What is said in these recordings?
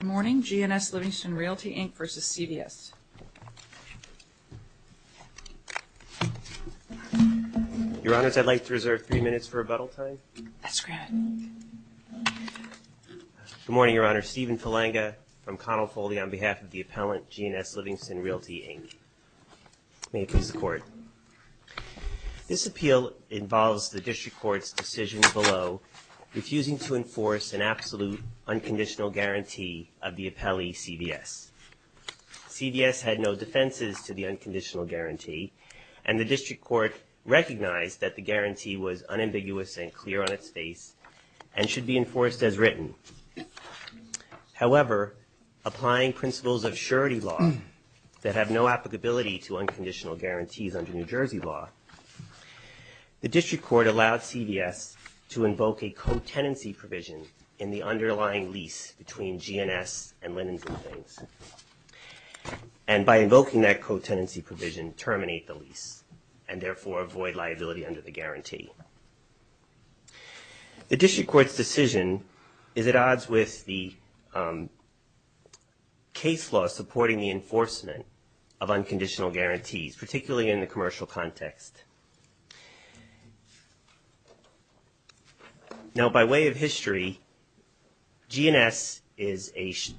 Good morning, G&S Livingston Realty, Inc. vs. CVS. Your Honors, I'd like to reserve three minutes for rebuttal time. That's great. Good morning, Your Honor. Stephen Falanga from Connell Foley on behalf of the appellant, G&S Livingston Realty, Inc. May it please the Court. This appeal involves the District Court's decision below, refusing to enforce an absolute unconditional guarantee of the appellee, CVS. CVS had no defenses to the unconditional guarantee, and the District Court recognized that the guarantee was unambiguous and clear on its face and should be enforced as written. However, applying principles of surety law that have no applicability to unconditional guarantees under New Jersey law, the District Court allowed CVS to invoke a co-tenancy provision in the underlying lease between G&S and Linens & Things, and by invoking that co-tenancy provision, terminate the lease and therefore avoid liability under the guarantee. The District Court's decision is at odds with the case law supporting the enforcement of unconditional guarantees, particularly in the commercial context. Now, by way of history, G&S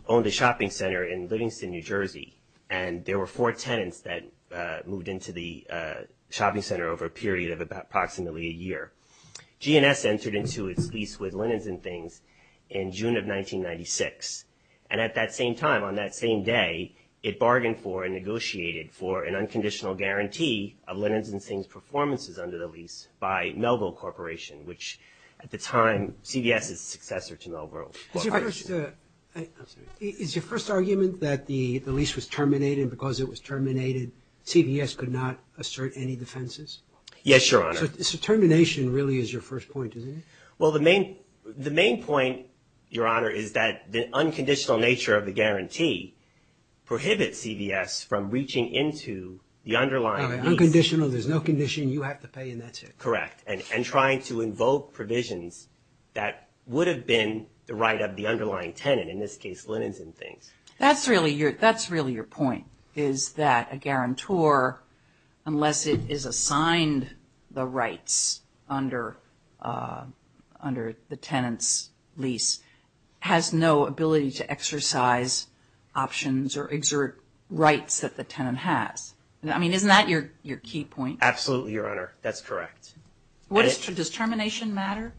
owned a shopping center in Livingston, New Jersey, and there were four tenants that moved into the shopping center over a period of approximately a year. G&S entered into its lease with Linens & Things in June of 1996, and at that same time, on that same day, it bargained for and negotiated for an unconditional guarantee of Linens & Things' performances under the lease by Melville Corporation, which at the time, CVS's successor to Melville Corporation. Is your first argument that the lease was terminated because it was terminated, CVS could not assert any defenses? Yes, Your Honor. So termination really is your first point, isn't it? Well, the main point, Your Honor, is that the unconditional nature of the guarantee prohibits CVS from reaching into the underlying lease. Unconditional, there's no condition, you have to pay, and that's it. Correct, and trying to invoke provisions that would have been the right of the underlying tenant, in this case, Linens & Things. That's really your point, is that a guarantor, unless it is assigned the rights under the tenant's lease, has no ability to exercise options or exert rights that the tenant has. I mean, isn't that your key point? Absolutely, Your Honor, that's correct. Does termination matter?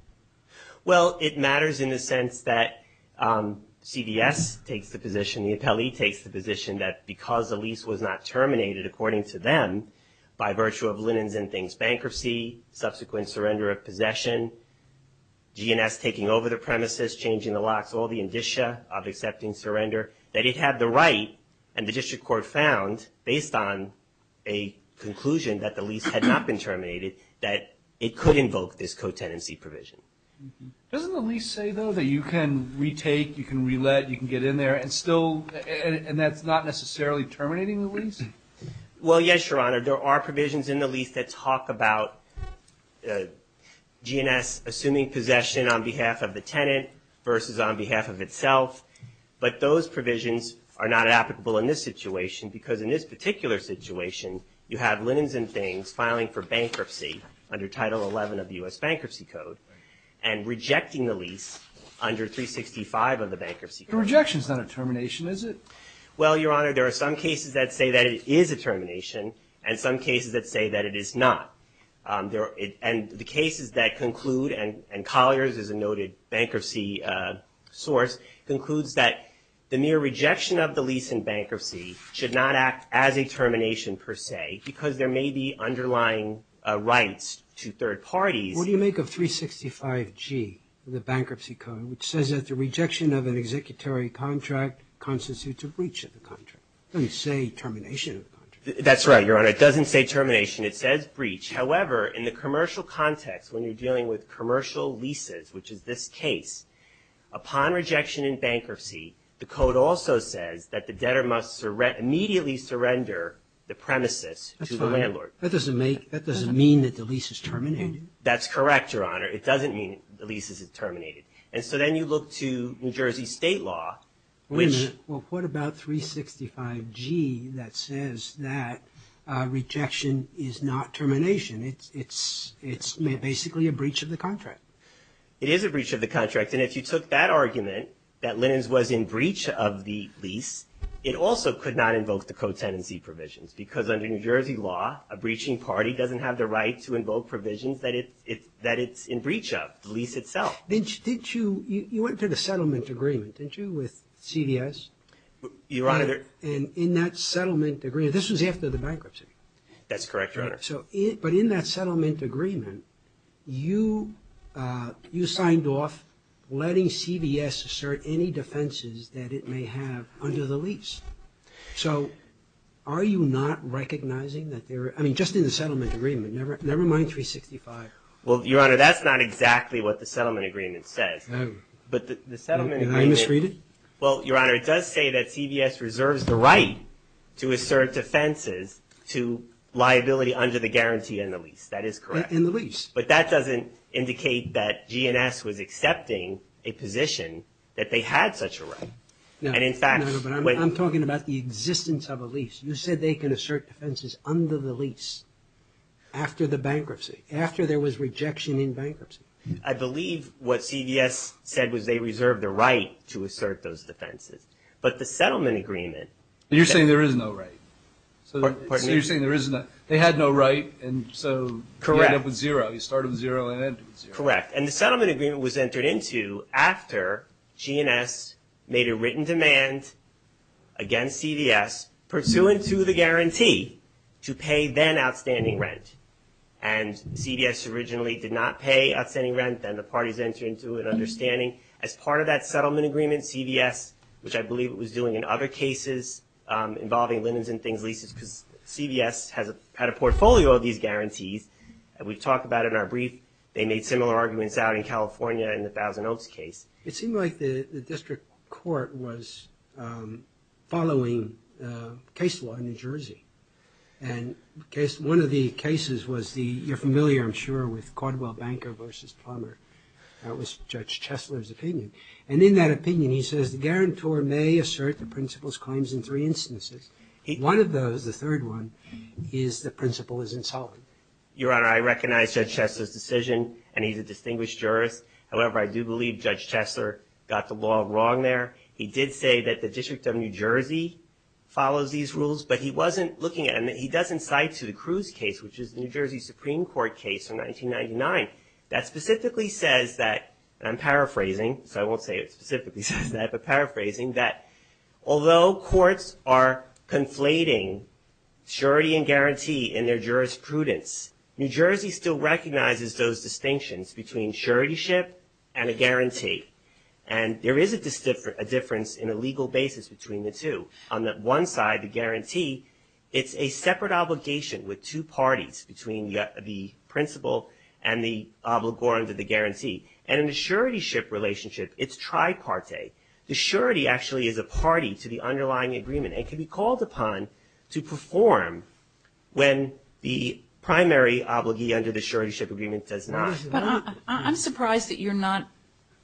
Well, it matters in the sense that CVS takes the position, the appellee takes the position that because the lease was not terminated, according to them, by virtue of Linens & Things bankruptcy, subsequent surrender of possession, G&S taking over the premises, changing the locks, all the indicia of accepting surrender, that it had the right, and the district court found, based on a conclusion that the lease had not been terminated, that it could invoke this co-tenancy provision. Doesn't the lease say, though, that you can retake, you can re-let, you can get in there, and that's not necessarily terminating the lease? Well, yes, Your Honor. There are provisions in the lease that talk about G&S assuming possession on behalf of the tenant versus on behalf of itself, but those provisions are not applicable in this situation because in this under Title 11 of the U.S. Bankruptcy Code, and rejecting the lease under 365 of the Bankruptcy Code. Rejection is not a termination, is it? Well, Your Honor, there are some cases that say that it is a termination, and some cases that say that it is not. And the cases that conclude, and Collier's is a noted bankruptcy source, concludes that the mere rejection of the lease in bankruptcy should not act as a What do you make of 365G of the Bankruptcy Code, which says that the rejection of an executory contract constitutes a breach of the contract? It doesn't say termination of the contract. That's right, Your Honor. It doesn't say termination. It says breach. However, in the commercial context, when you're dealing with commercial leases, which is this case, upon rejection in bankruptcy, the code also says that the debtor must immediately surrender the premises to the That's fine. Does that mean that the lease is terminated? That's correct, Your Honor. It doesn't mean the lease is terminated. And so then you look to New Jersey state law, which Wait a minute. Well, what about 365G that says that rejection is not termination? It's basically a breach of the contract. It is a breach of the contract. And if you took that argument, that Linens was in breach of the lease, it also could not invoke the co-tenancy provisions, because under New Jersey law, a breaching party doesn't have the right to invoke provisions that it's in breach of, the lease itself. You went to the settlement agreement, didn't you, with CVS? Your Honor. And in that settlement agreement, this was after the bankruptcy. That's correct, Your Honor. But in that settlement agreement, you signed off letting CVS assert any defenses that it may have under the lease. So are you not recognizing that there are – I mean, just in the settlement agreement, never mind 365. Well, Your Honor, that's not exactly what the settlement agreement says. No. But the settlement agreement – Are you misreading? Well, Your Honor, it does say that CVS reserves the right to assert defenses to liability under the guarantee in the lease. That is correct. In the lease. But that doesn't indicate that GNS was accepting a position that they had such a right. And in fact – No, but I'm talking about the existence of a lease. You said they can assert defenses under the lease after the bankruptcy, after there was rejection in bankruptcy. I believe what CVS said was they reserved the right to assert those defenses. But the settlement agreement – You're saying there is no right. Pardon me? You're saying there is no – they had no right, and so you end up with zero. Correct. You start with zero and end with zero. Correct. And the settlement agreement was entered into after GNS made a written demand against CVS pursuant to the guarantee to pay then outstanding rent. And CVS originally did not pay outstanding rent, then the parties entered into an understanding. As part of that settlement agreement, CVS, which I believe it was doing in other cases involving linens and things, leases, because CVS had a portfolio of these guarantees. We've talked about it in our brief. They made similar arguments out in California in the Thousand Oaks case. It seemed like the district court was following case law in New Jersey. And one of the cases was the – you're familiar, I'm sure, with Caldwell Banker v. Plummer. That was Judge Chesler's opinion. And in that opinion, he says, the guarantor may assert the principal's claims in three instances. One of those, the third one, is the principal is insolvent. Your Honor, I recognize Judge Chesler's decision, and he's a distinguished jurist. However, I do believe Judge Chesler got the law wrong there. He did say that the District of New Jersey follows these rules, but he wasn't looking at them. He does incite to the Cruz case, which is the New Jersey Supreme Court case from 1999, that specifically says that – and I'm paraphrasing, so I won't say it specifically says that, but paraphrasing that although courts are conflating surety and guarantee in their jurisprudence, New Jersey still recognizes those distinctions between suretyship and a guarantee. And there is a difference in a legal basis between the two. On the one side, the guarantee, it's a separate obligation with two parties, between the principal and the obligor under the guarantee. And in a suretyship relationship, it's tripartite. The surety actually is a party to the underlying agreement and can be called upon to perform when the primary obligee under the suretyship agreement does not. But I'm surprised that you're not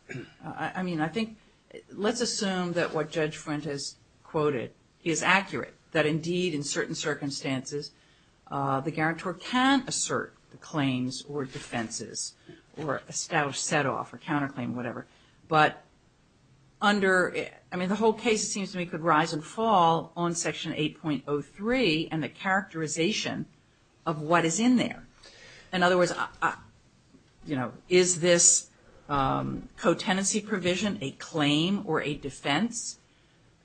– I mean, I think – let's assume that what Judge Frent has quoted is accurate, or established setoff or counterclaim, whatever. But under – I mean, the whole case, it seems to me, could rise and fall on Section 8.03 and the characterization of what is in there. In other words, is this co-tenancy provision a claim or a defense?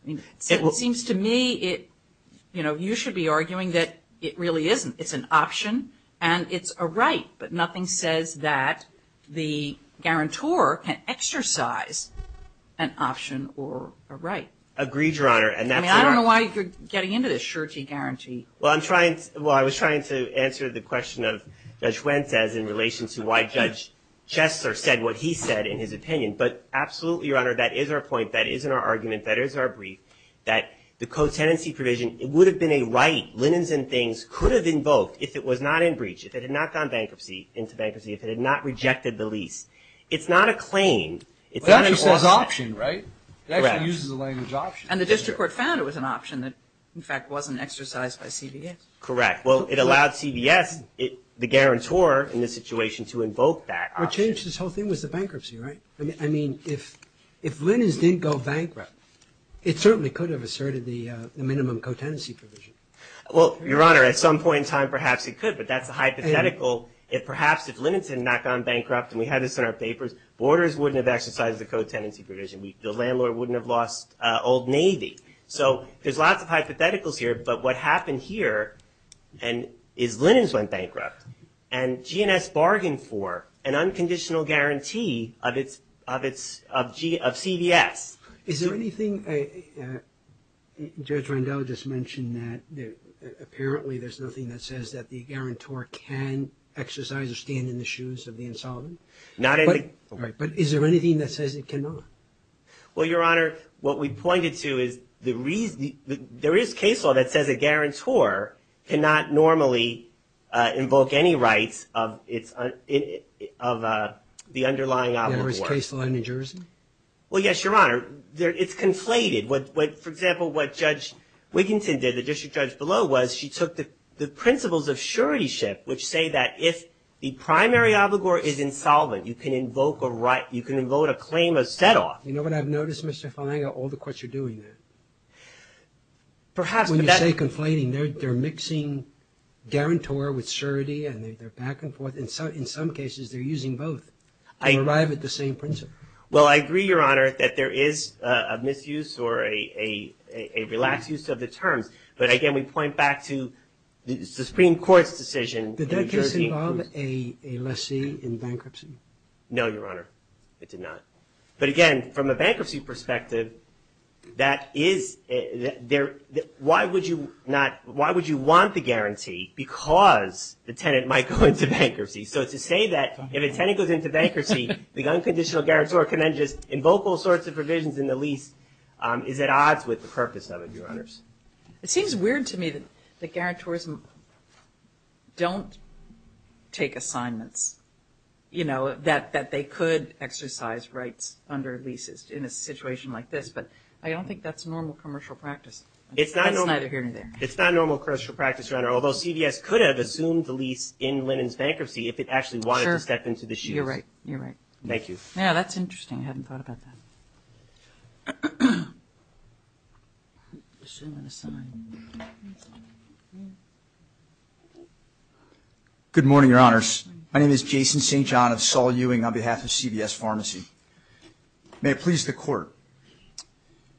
It seems to me it – you should be arguing that it really isn't. It's an option and it's a right. But nothing says that the guarantor can exercise an option or a right. Agreed, Your Honor. And that's why – I mean, I don't know why you're getting into this surety-guarantee. Well, I'm trying – well, I was trying to answer the question of Judge Frent as in relation to why Judge Chessler said what he said in his opinion. But absolutely, Your Honor, that is our point. That is our argument. That is our brief, that the co-tenancy provision, it would have been a right. Linens and Things could have invoked if it was not in breach, if it had not gone bankruptcy – into bankruptcy, if it had not rejected the lease. It's not a claim. It's an exception. Well, that was an option, right? Correct. It actually uses the language option. And the district court found it was an option that, in fact, wasn't exercised by CVS. Correct. Well, it allowed CVS, the guarantor in this situation, to invoke that option. What changed this whole thing was the bankruptcy, right? I mean, if Linens didn't go bankrupt, it certainly could have asserted the minimum co-tenancy provision. Well, Your Honor, at some point in time, perhaps it could, but that's a hypothetical. Perhaps if Linens had not gone bankrupt, and we had this in our papers, Borders wouldn't have exercised the co-tenancy provision. The landlord wouldn't have lost Old Navy. So there's lots of hypotheticals here. But what happened here is Linens went bankrupt, and GNS bargained for an unconditional guarantee of CVS. Is there anything – Judge Rondeau just mentioned that apparently there's nothing that says that the guarantor can exercise or stand in the shoes of the insolvent. Not any – Right. But is there anything that says it cannot? Well, Your Honor, what we pointed to is the reason – there is case law that says a guarantor cannot normally invoke any rights of its – of the underlying outlook for it. There is case law in New Jersey? Well, yes, Your Honor. It's conflated. For example, what Judge Wiginton did, the district judge below, was she took the principles of suretyship, which say that if the primary obligor is insolvent, you can invoke a right – you can invoke a claim of set-off. You know what I've noticed, Mr. Filanga? All the courts are doing that. Perhaps – When you say conflating, they're mixing guarantor with surety, and they're back and forth. In some cases, they're using both to arrive at the same principle. Well, I agree, Your Honor, that there is a misuse or a relaxed use of the terms. But, again, we point back to the Supreme Court's decision. Did that case involve a lessee in bankruptcy? No, Your Honor, it did not. But, again, from a bankruptcy perspective, that is – why would you not – why would you want the guarantee because the tenant might go into bankruptcy? So to say that if a tenant goes into bankruptcy, the unconditional guarantor can then just invoke all sorts of provisions in the lease is at odds with the purpose of it, Your Honors. It seems weird to me that guarantors don't take assignments, you know, that they could exercise rights under leases in a situation like this, but I don't think that's normal commercial practice. It's not normal. That's neither here nor there. It's not normal commercial practice, Your Honor, although CVS could have assumed the lease in Lennon's bankruptcy if it actually wanted to step into the shoes. You're right. You're right. Thank you. Yeah, that's interesting. I hadn't thought about that. Good morning, Your Honors. My name is Jason St. John of Saul Ewing on behalf of CVS Pharmacy. May it please the Court.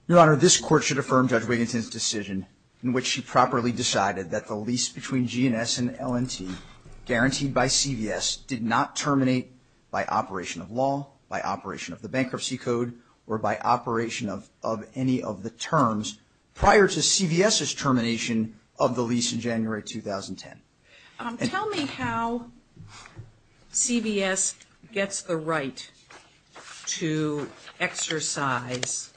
Your Honor, this Court should affirm Judge Wiginton's decision in which she properly decided that the lease between G&S and L&T guaranteed by CVS did not terminate by operation of law, by operation of the bankruptcy code, or by operation of any of the terms prior to CVS's termination of the lease in January 2010. Tell me how CVS gets the right to exercise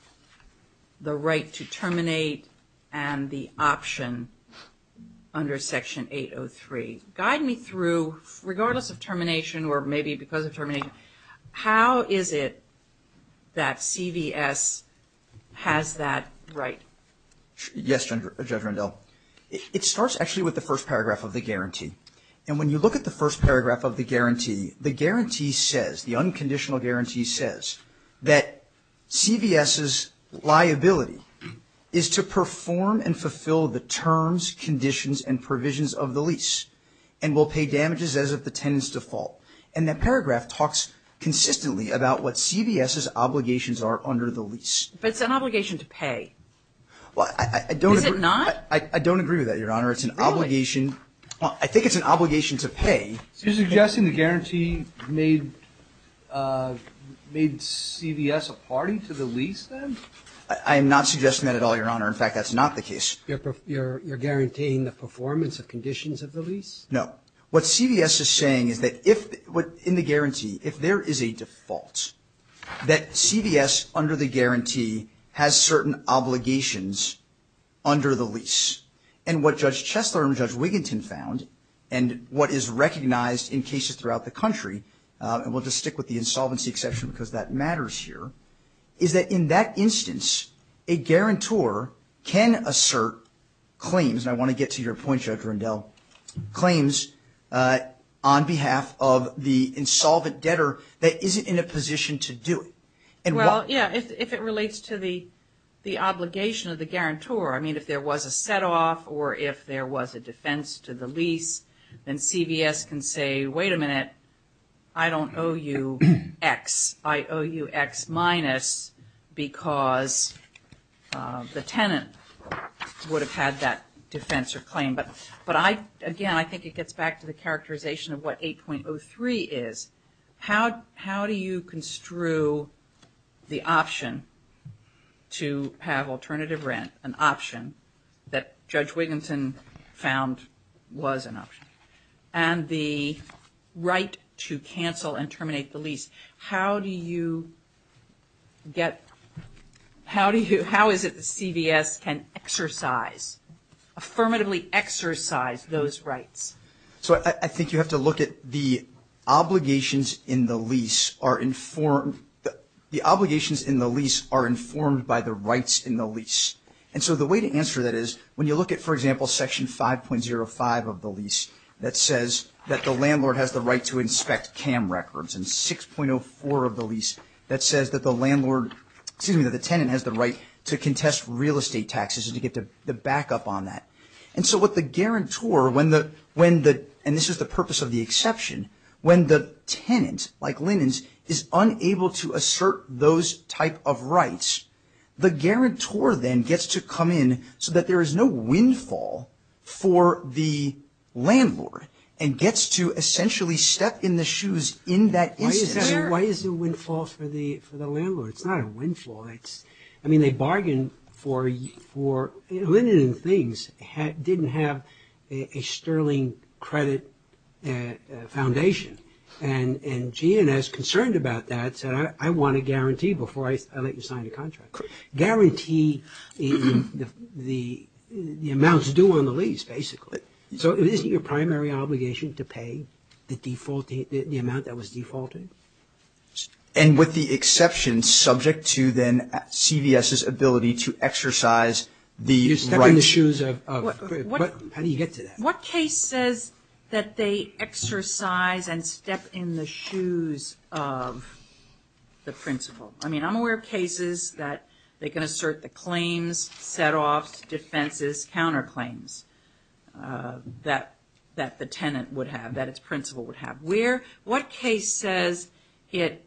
the right to terminate and the option under Section 803. Guide me through, regardless of termination or maybe because of termination, how is it that CVS has that right? Yes, Judge Rendell. It starts actually with the first paragraph of the guarantee. And when you look at the first paragraph of the guarantee, the guarantee says, the unconditional guarantee says, that CVS's liability is to perform and fulfill the terms, conditions, and provisions of the lease and will pay damages as of the tenant's default. And that paragraph talks consistently about what CVS's obligations are under the lease. But it's an obligation to pay. Is it not? I don't agree with that, Your Honor. Really? I think it's an obligation to pay. So you're suggesting the guarantee made CVS a party to the lease then? I am not suggesting that at all, Your Honor. In fact, that's not the case. You're guaranteeing the performance of conditions of the lease? No. What CVS is saying is that in the guarantee, if there is a default, that CVS under the guarantee has certain obligations under the lease. And what Judge Chesler and Judge Wiginton found, and what is recognized in cases throughout the country, and we'll just stick with the insolvency exception because that matters here, is that in that instance, a guarantor can assert claims, and I want to get to your point, Judge Rundell, claims on behalf of the insolvent debtor that isn't in a position to do it. Well, yeah, if it relates to the obligation of the guarantor, I mean if there was a set-off or if there was a defense to the lease, then CVS can say, wait a minute, I don't owe you X. I owe you X minus because the tenant would have had that defense or claim. But, again, I think it gets back to the characterization of what 8.03 is. How do you construe the option to have alternative rent, an option that Judge Wiginton found was an option, and the right to cancel and terminate the lease? How do you get – how is it that CVS can exercise, affirmatively exercise those rights? So I think you have to look at the obligations in the lease are informed – the obligations in the lease are informed by the rights in the lease. And so the way to answer that is when you look at, for example, Section 5.05 of the lease that says that the landlord has the right to inspect CAM records and 6.04 of the lease that says that the landlord – excuse me, that the tenant has the right to contest real estate taxes and to get the backup on that. And so what the guarantor, when the – and this is the purpose of the exception, when the tenant, like Linens, is unable to assert those type of rights, the guarantor then gets to come in so that there is no windfall for the landlord and gets to essentially step in the shoes in that instance. Why is there windfall for the landlord? It's not a windfall. I mean, they bargained for – Linens and things didn't have a sterling credit foundation. And GNS, concerned about that, said, I want a guarantee before I let you sign the contract. Guarantee the amounts due on the lease, basically. So isn't your primary obligation to pay the default – the amount that was defaulted? And with the exception subject to then CVS's ability to exercise the rights. You step in the shoes of – how do you get to that? What case says that they exercise and step in the shoes of the principal? I mean, I'm aware of cases that they can assert the claims, setoffs, defenses, counterclaims that the tenant would have, that its principal would have. Where – what case says it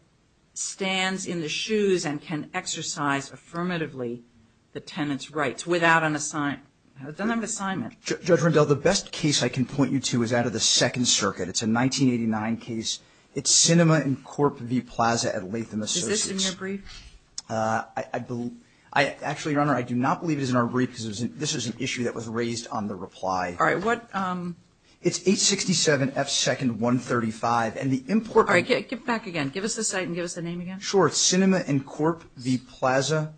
stands in the shoes and can exercise affirmatively the tenant's rights without an assignment? Judge Rendell, the best case I can point you to is out of the Second Circuit. It's a 1989 case. It's Sinema and Corp v. Plaza at Latham Associates. Is this in your brief? Actually, Your Honor, I do not believe it is in our brief because this is an issue that was raised on the reply. All right. What – It's 867 F. 2nd 135. And the import – All right. Give it back again. Give us the site and give us the name again. Sure. It's Sinema and Corp v. Plaza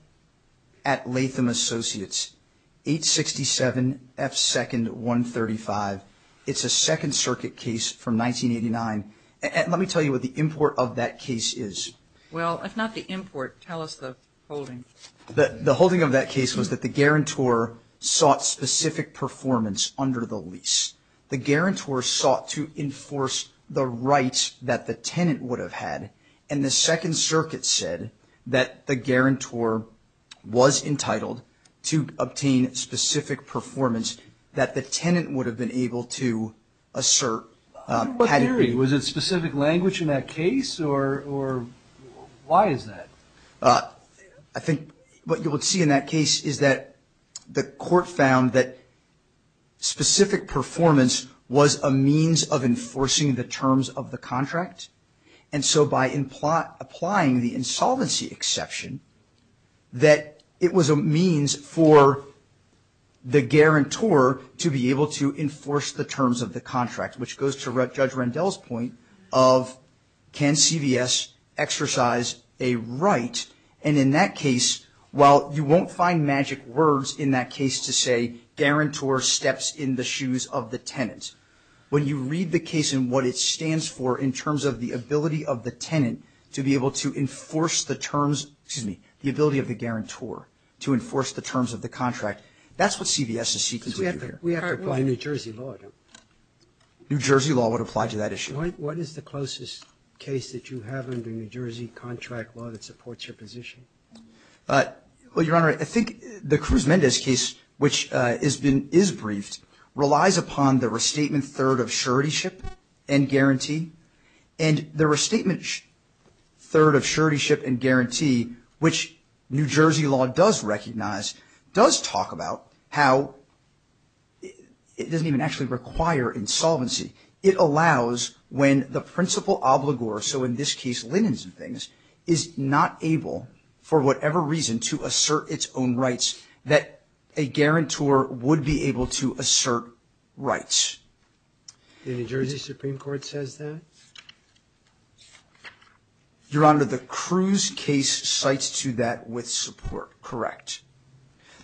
at Latham Associates. 867 F. 2nd 135. It's a Second Circuit case from 1989. Let me tell you what the import of that case is. Well, if not the import, tell us the holding. The holding of that case was that the guarantor sought specific performance under the lease. The guarantor sought to enforce the rights that the tenant would have had, and the Second Circuit said that the guarantor was entitled to obtain specific performance that the tenant would have been able to assert. What theory? Was it specific language in that case, or why is that? I think what you would see in that case is that the court found that specific performance was a means of enforcing the terms of the contract, and so by applying the insolvency exception, that it was a means for the guarantor to be able to enforce the terms of the contract, which goes to Judge Rendell's point of can CVS exercise a right, and in that case, while you won't find magic words in that case to say guarantor steps in the shoes of the tenant, when you read the case and what it stands for in terms of the ability of the tenant to be able to enforce the terms, excuse me, the ability of the guarantor to enforce the terms of the contract, that's what CVS is seeking to do here. We have to apply New Jersey law, don't we? New Jersey law would apply to that issue. What is the closest case that you have under New Jersey contract law that supports your position? Well, Your Honor, I think the Cruz-Mendez case, which is briefed, relies upon the restatement third of suretyship and guarantee, which New Jersey law does recognize, does talk about how it doesn't even actually require insolvency. It allows when the principal obligor, so in this case, Linens and things, is not able, for whatever reason, to assert its own rights that a guarantor would be able to assert rights. The New Jersey Supreme Court says that? Your Honor, the Cruz case cites to that with support. Correct.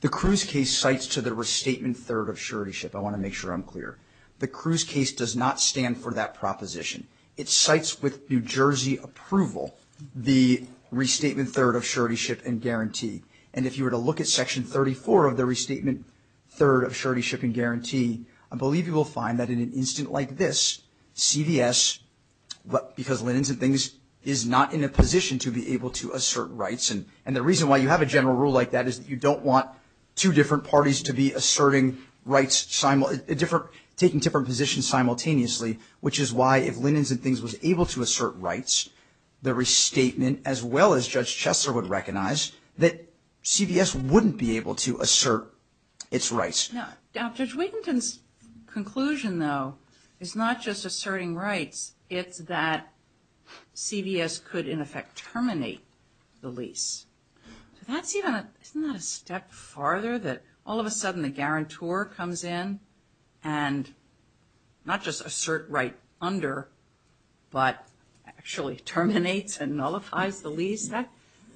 The Cruz case cites to the restatement third of suretyship. I want to make sure I'm clear. The Cruz case does not stand for that proposition. It cites with New Jersey approval the restatement third of suretyship and guarantee. And if you were to look at Section 34 of the restatement third of suretyship and guarantee, I believe you will find that in an instant like this, CVS, because Linens and things, is not in a position to be able to assert rights. And the reason why you have a general rule like that is that you don't want two different parties to be asserting rights, taking different positions simultaneously, which is why if Linens and things was able to assert rights, the restatement, as well as Judge Chester would recognize, that CVS wouldn't be able to assert its rights. Judge Whittington's conclusion, though, is not just asserting rights. It's that CVS could, in effect, terminate the lease. Isn't that a step farther that all of a sudden the guarantor comes in and not just assert right under, but actually terminates and nullifies the lease?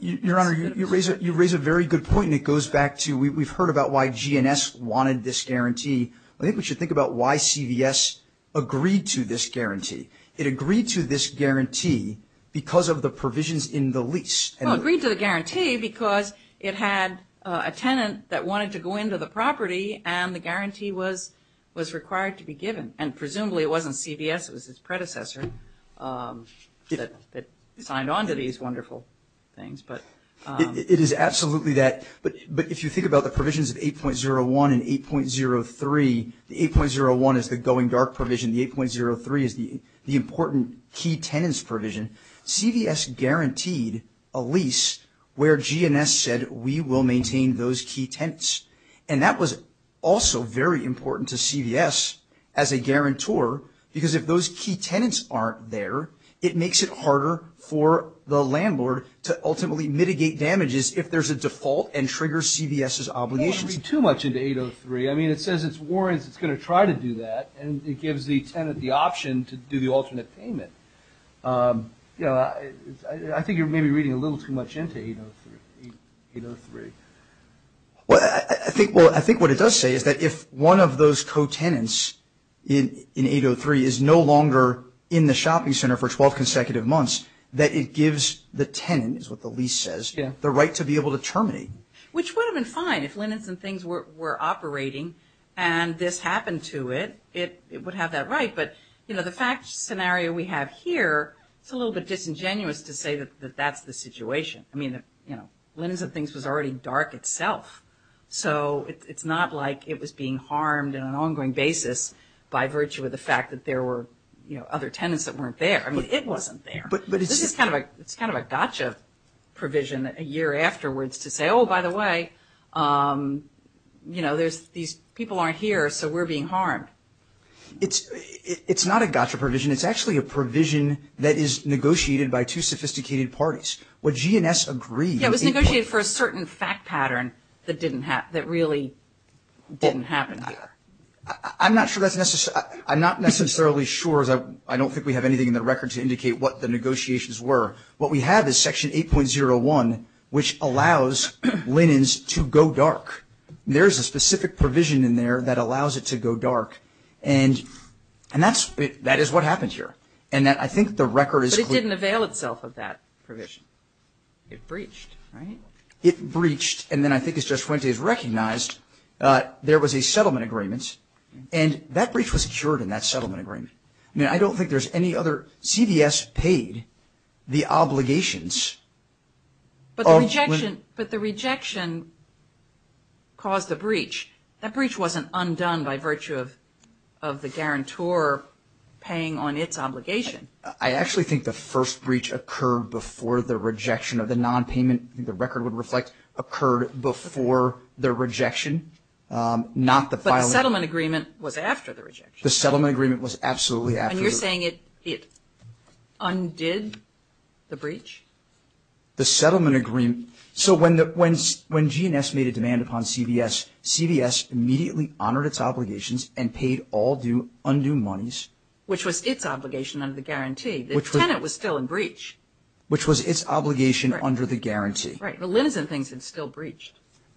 Your Honor, you raise a very good point, and it goes back to, we've heard about why GNS wanted this guarantee. I think we should think about why CVS agreed to this guarantee. It agreed to this guarantee because of the provisions in the lease. Well, it agreed to the guarantee because it had a tenant that wanted to go into the property, and the guarantee was required to be given. And presumably it wasn't CVS, it was its predecessor that signed on to these wonderful things. It is absolutely that. But if you think about the provisions of 8.01 and 8.03, the 8.01 is the going dark provision, the 8.03 is the important key tenants provision. CVS guaranteed a lease where GNS said, we will maintain those key tenants. And that was also very important to CVS as a guarantor, because if those key tenants aren't there, it makes it harder for the landlord to ultimately mitigate damages if there's a default and triggers CVS's obligations. It doesn't read too much into 8.03. I mean, it says it's warrants, it's going to try to do that, and it gives the tenant the option to do the alternate payment. I think you're maybe reading a little too much into 8.03. Well, I think what it does say is that if one of those co-tenants in 8.03 is no longer in the shopping center for 12 consecutive months, that it gives the tenant, is what the lease says, the right to be able to terminate. Which would have been fine. If Linens and Things were operating and this happened to it, it would have that right. But, you know, the fact scenario we have here, it's a little bit disingenuous to say that that's the situation. I mean, you know, Linens and Things was already dark itself. So it's not like it was being harmed on an ongoing basis by virtue of the fact that there were, you know, other tenants that weren't there. I mean, it wasn't there. This is kind of a gotcha provision a year afterwards to say, oh, by the way, you know, these people aren't here, so we're being harmed. It's not a gotcha provision. It's actually a provision that is negotiated by two sophisticated parties. What G&S agreed. Yeah, it was negotiated for a certain fact pattern that really didn't happen here. I'm not sure that's necessary. I'm not necessarily sure. I don't think we have anything in the record to indicate what the negotiations were. What we have is Section 8.01, which allows Linens to go dark. There's a specific provision in there that allows it to go dark. And that is what happened here. And I think the record is clear. But it didn't avail itself of that provision. It breached, right? It breached. And then I think as Joshuente has recognized, there was a settlement agreement. And that breach was secured in that settlement agreement. I mean, I don't think there's any other. CVS paid the obligations. But the rejection caused the breach. That breach wasn't undone by virtue of the guarantor paying on its obligation. I actually think the first breach occurred before the rejection of the nonpayment, I think the record would reflect, occurred before the rejection, not the filing. But the settlement agreement was after the rejection. The settlement agreement was absolutely after. And you're saying it undid the breach? The settlement agreement. So when GNS made a demand upon CVS, CVS immediately honored its obligations and paid all undue monies. Which was its obligation under the guarantee. The tenant was still in breach. Which was its obligation under the guarantee. Right. But Linens and Things had still breached.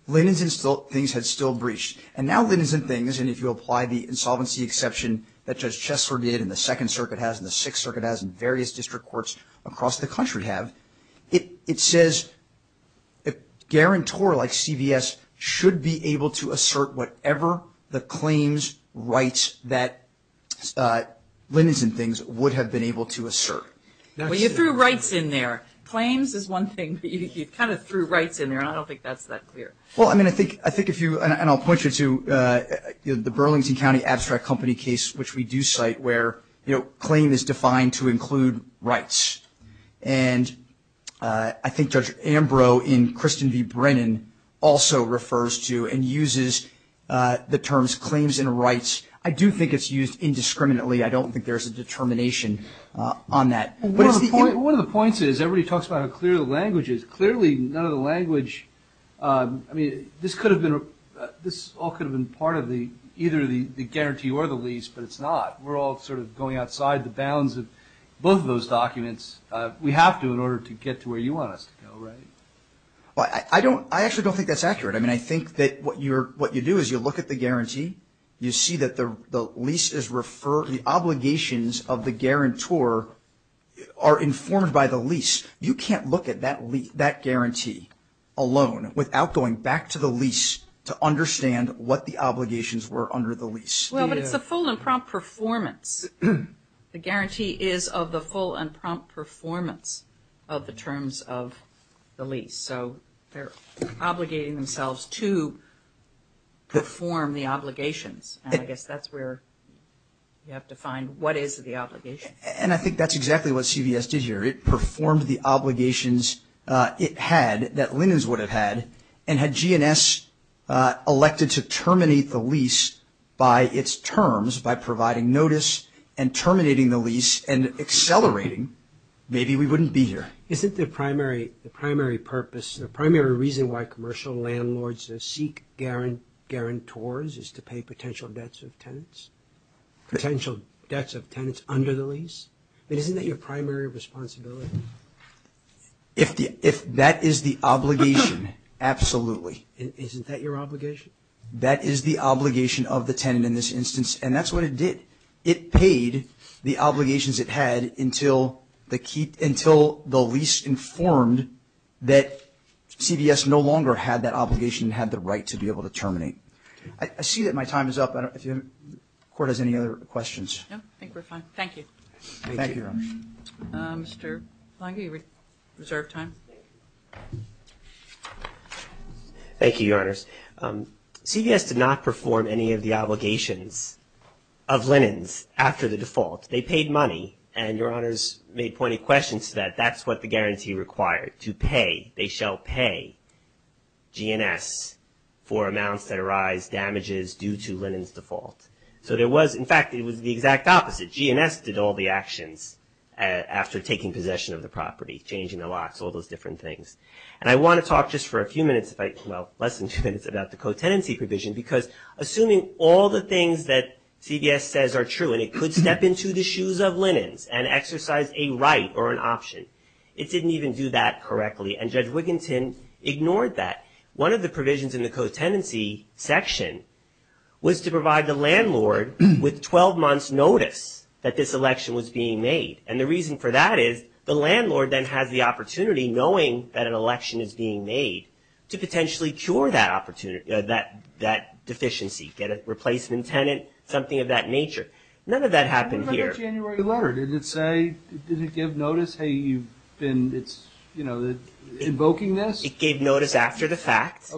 Linens and Things had still breached. And now Linens and Things, and if you apply the insolvency exception that Judge Chesler did and the Second Circuit has and the Sixth Circuit has and various district courts across the country have, it says a guarantor like CVS should be able to assert whatever the claims rights that Linens and Things would have been able to assert. Well, you threw rights in there. Claims is one thing, but you kind of threw rights in there. And I don't think that's that clear. Well, I mean, I think if you, and I'll point you to the Burlington County Abstract Company case, which we do cite where, you know, claim is defined to include rights. And I think Judge Ambrose in Kristen v. Brennan also refers to and uses the terms claims and rights. I do think it's used indiscriminately. I don't think there's a determination on that. One of the points is everybody talks about how clear the language is. Clearly none of the language, I mean, this could have been, this all could have been part of either the guarantee or the lease, but it's not. We're all sort of going outside the bounds of both of those documents. We have to in order to get to where you want us to go, right? I actually don't think that's accurate. You see that the lease is referred, the obligations of the guarantor are informed by the lease. You can't look at that guarantee alone without going back to the lease to understand what the obligations were under the lease. Well, but it's a full and prompt performance. The guarantee is of the full and prompt performance of the terms of the lease. So they're obligating themselves to perform the obligations. I guess that's where you have to find what is the obligation. And I think that's exactly what CVS did here. It performed the obligations it had, that Linus would have had, and had GNS elected to terminate the lease by its terms, by providing notice and terminating the lease and accelerating, maybe we wouldn't be here. Isn't the primary purpose, the primary reason why commercial landlords seek guarantors is to pay potential debts of tenants, potential debts of tenants under the lease? Isn't that your primary responsibility? If that is the obligation, absolutely. Isn't that your obligation? That is the obligation of the tenant in this instance, and that's what it did. It paid the obligations it had until the lease informed that CVS no longer had that obligation and had the right to be able to terminate. I see that my time is up. I don't know if the Court has any other questions. No, I think we're fine. Thank you. Thank you, Your Honor. Thank you, Your Honors. CVS did not perform any of the obligations of Linus after the default. They paid money, and Your Honors made pointed questions to that. That's what the guarantee required, to pay, they shall pay GNS for amounts that arise, damages due to Linus' default. So there was, in fact, it was the exact opposite. GNS did all the actions after taking possession of the property, changing the locks, all those different things. And I want to talk just for a few minutes, well, less than a few minutes about the co-tenancy provision, because assuming all the things that CVS says are true, and it could step into the shoes of Linus and exercise a right or an option, it didn't even do that correctly, and Judge Wigginton ignored that. One of the provisions in the co-tenancy section was to provide the landlord with 12 months' notice that this election was being made. And the reason for that is the landlord then has the opportunity, knowing that an election is being made, to potentially cure that deficiency, get a replacement tenant, something of that nature. None of that happened here. What about that January letter? Did it say, did it give notice, hey, you've been invoking this? It gave notice after the fact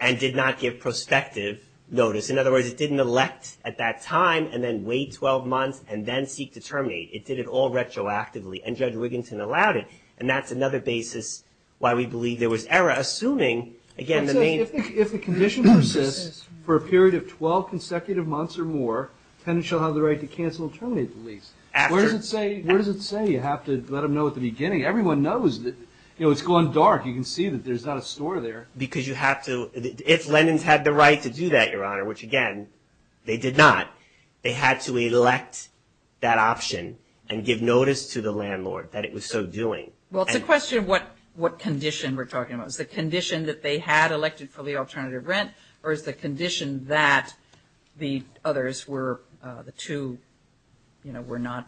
and did not give prospective notice. In other words, it didn't elect at that time and then wait 12 months and then seek to terminate. It did it all retroactively, and Judge Wigginton allowed it, and that's another basis why we believe there was error. Assuming, again, the main – If the condition persists for a period of 12 consecutive months or more, the tenant shall have the right to cancel and terminate the lease. Where does it say you have to let them know at the beginning? Everyone knows that, you know, it's gone dark. You can see that there's not a store there. Because you have to – if Lenin's had the right to do that, Your Honor, which, again, they did not. They had to elect that option and give notice to the landlord that it was so doing. Well, it's a question of what condition we're talking about. Is the condition that they had elected for the alternative rent, or is the condition that the others were – the two, you know, were not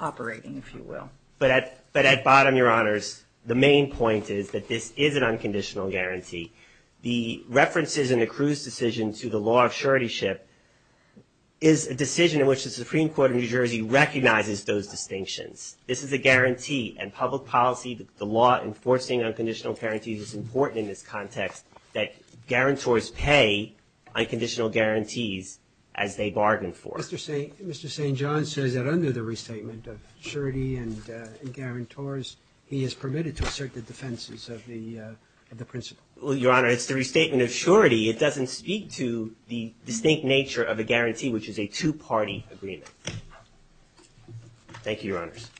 operating, if you will? But at bottom, Your Honors, the main point is that this is an unconditional guarantee. The references in the Cruz decision to the law of suretyship is a decision in which the Supreme Court of New Jersey recognizes those distinctions. This is a guarantee, and public policy, the law enforcing unconditional guarantees, is important in this context that guarantors pay unconditional guarantees as they bargain for it. Mr. St. John says that under the restatement of surety and guarantors, he is permitted to assert the defenses of the principle. Well, Your Honor, it's the restatement of surety. It doesn't speak to the distinct nature of a guarantee, which is a two-party agreement. Thank you, Your Honors.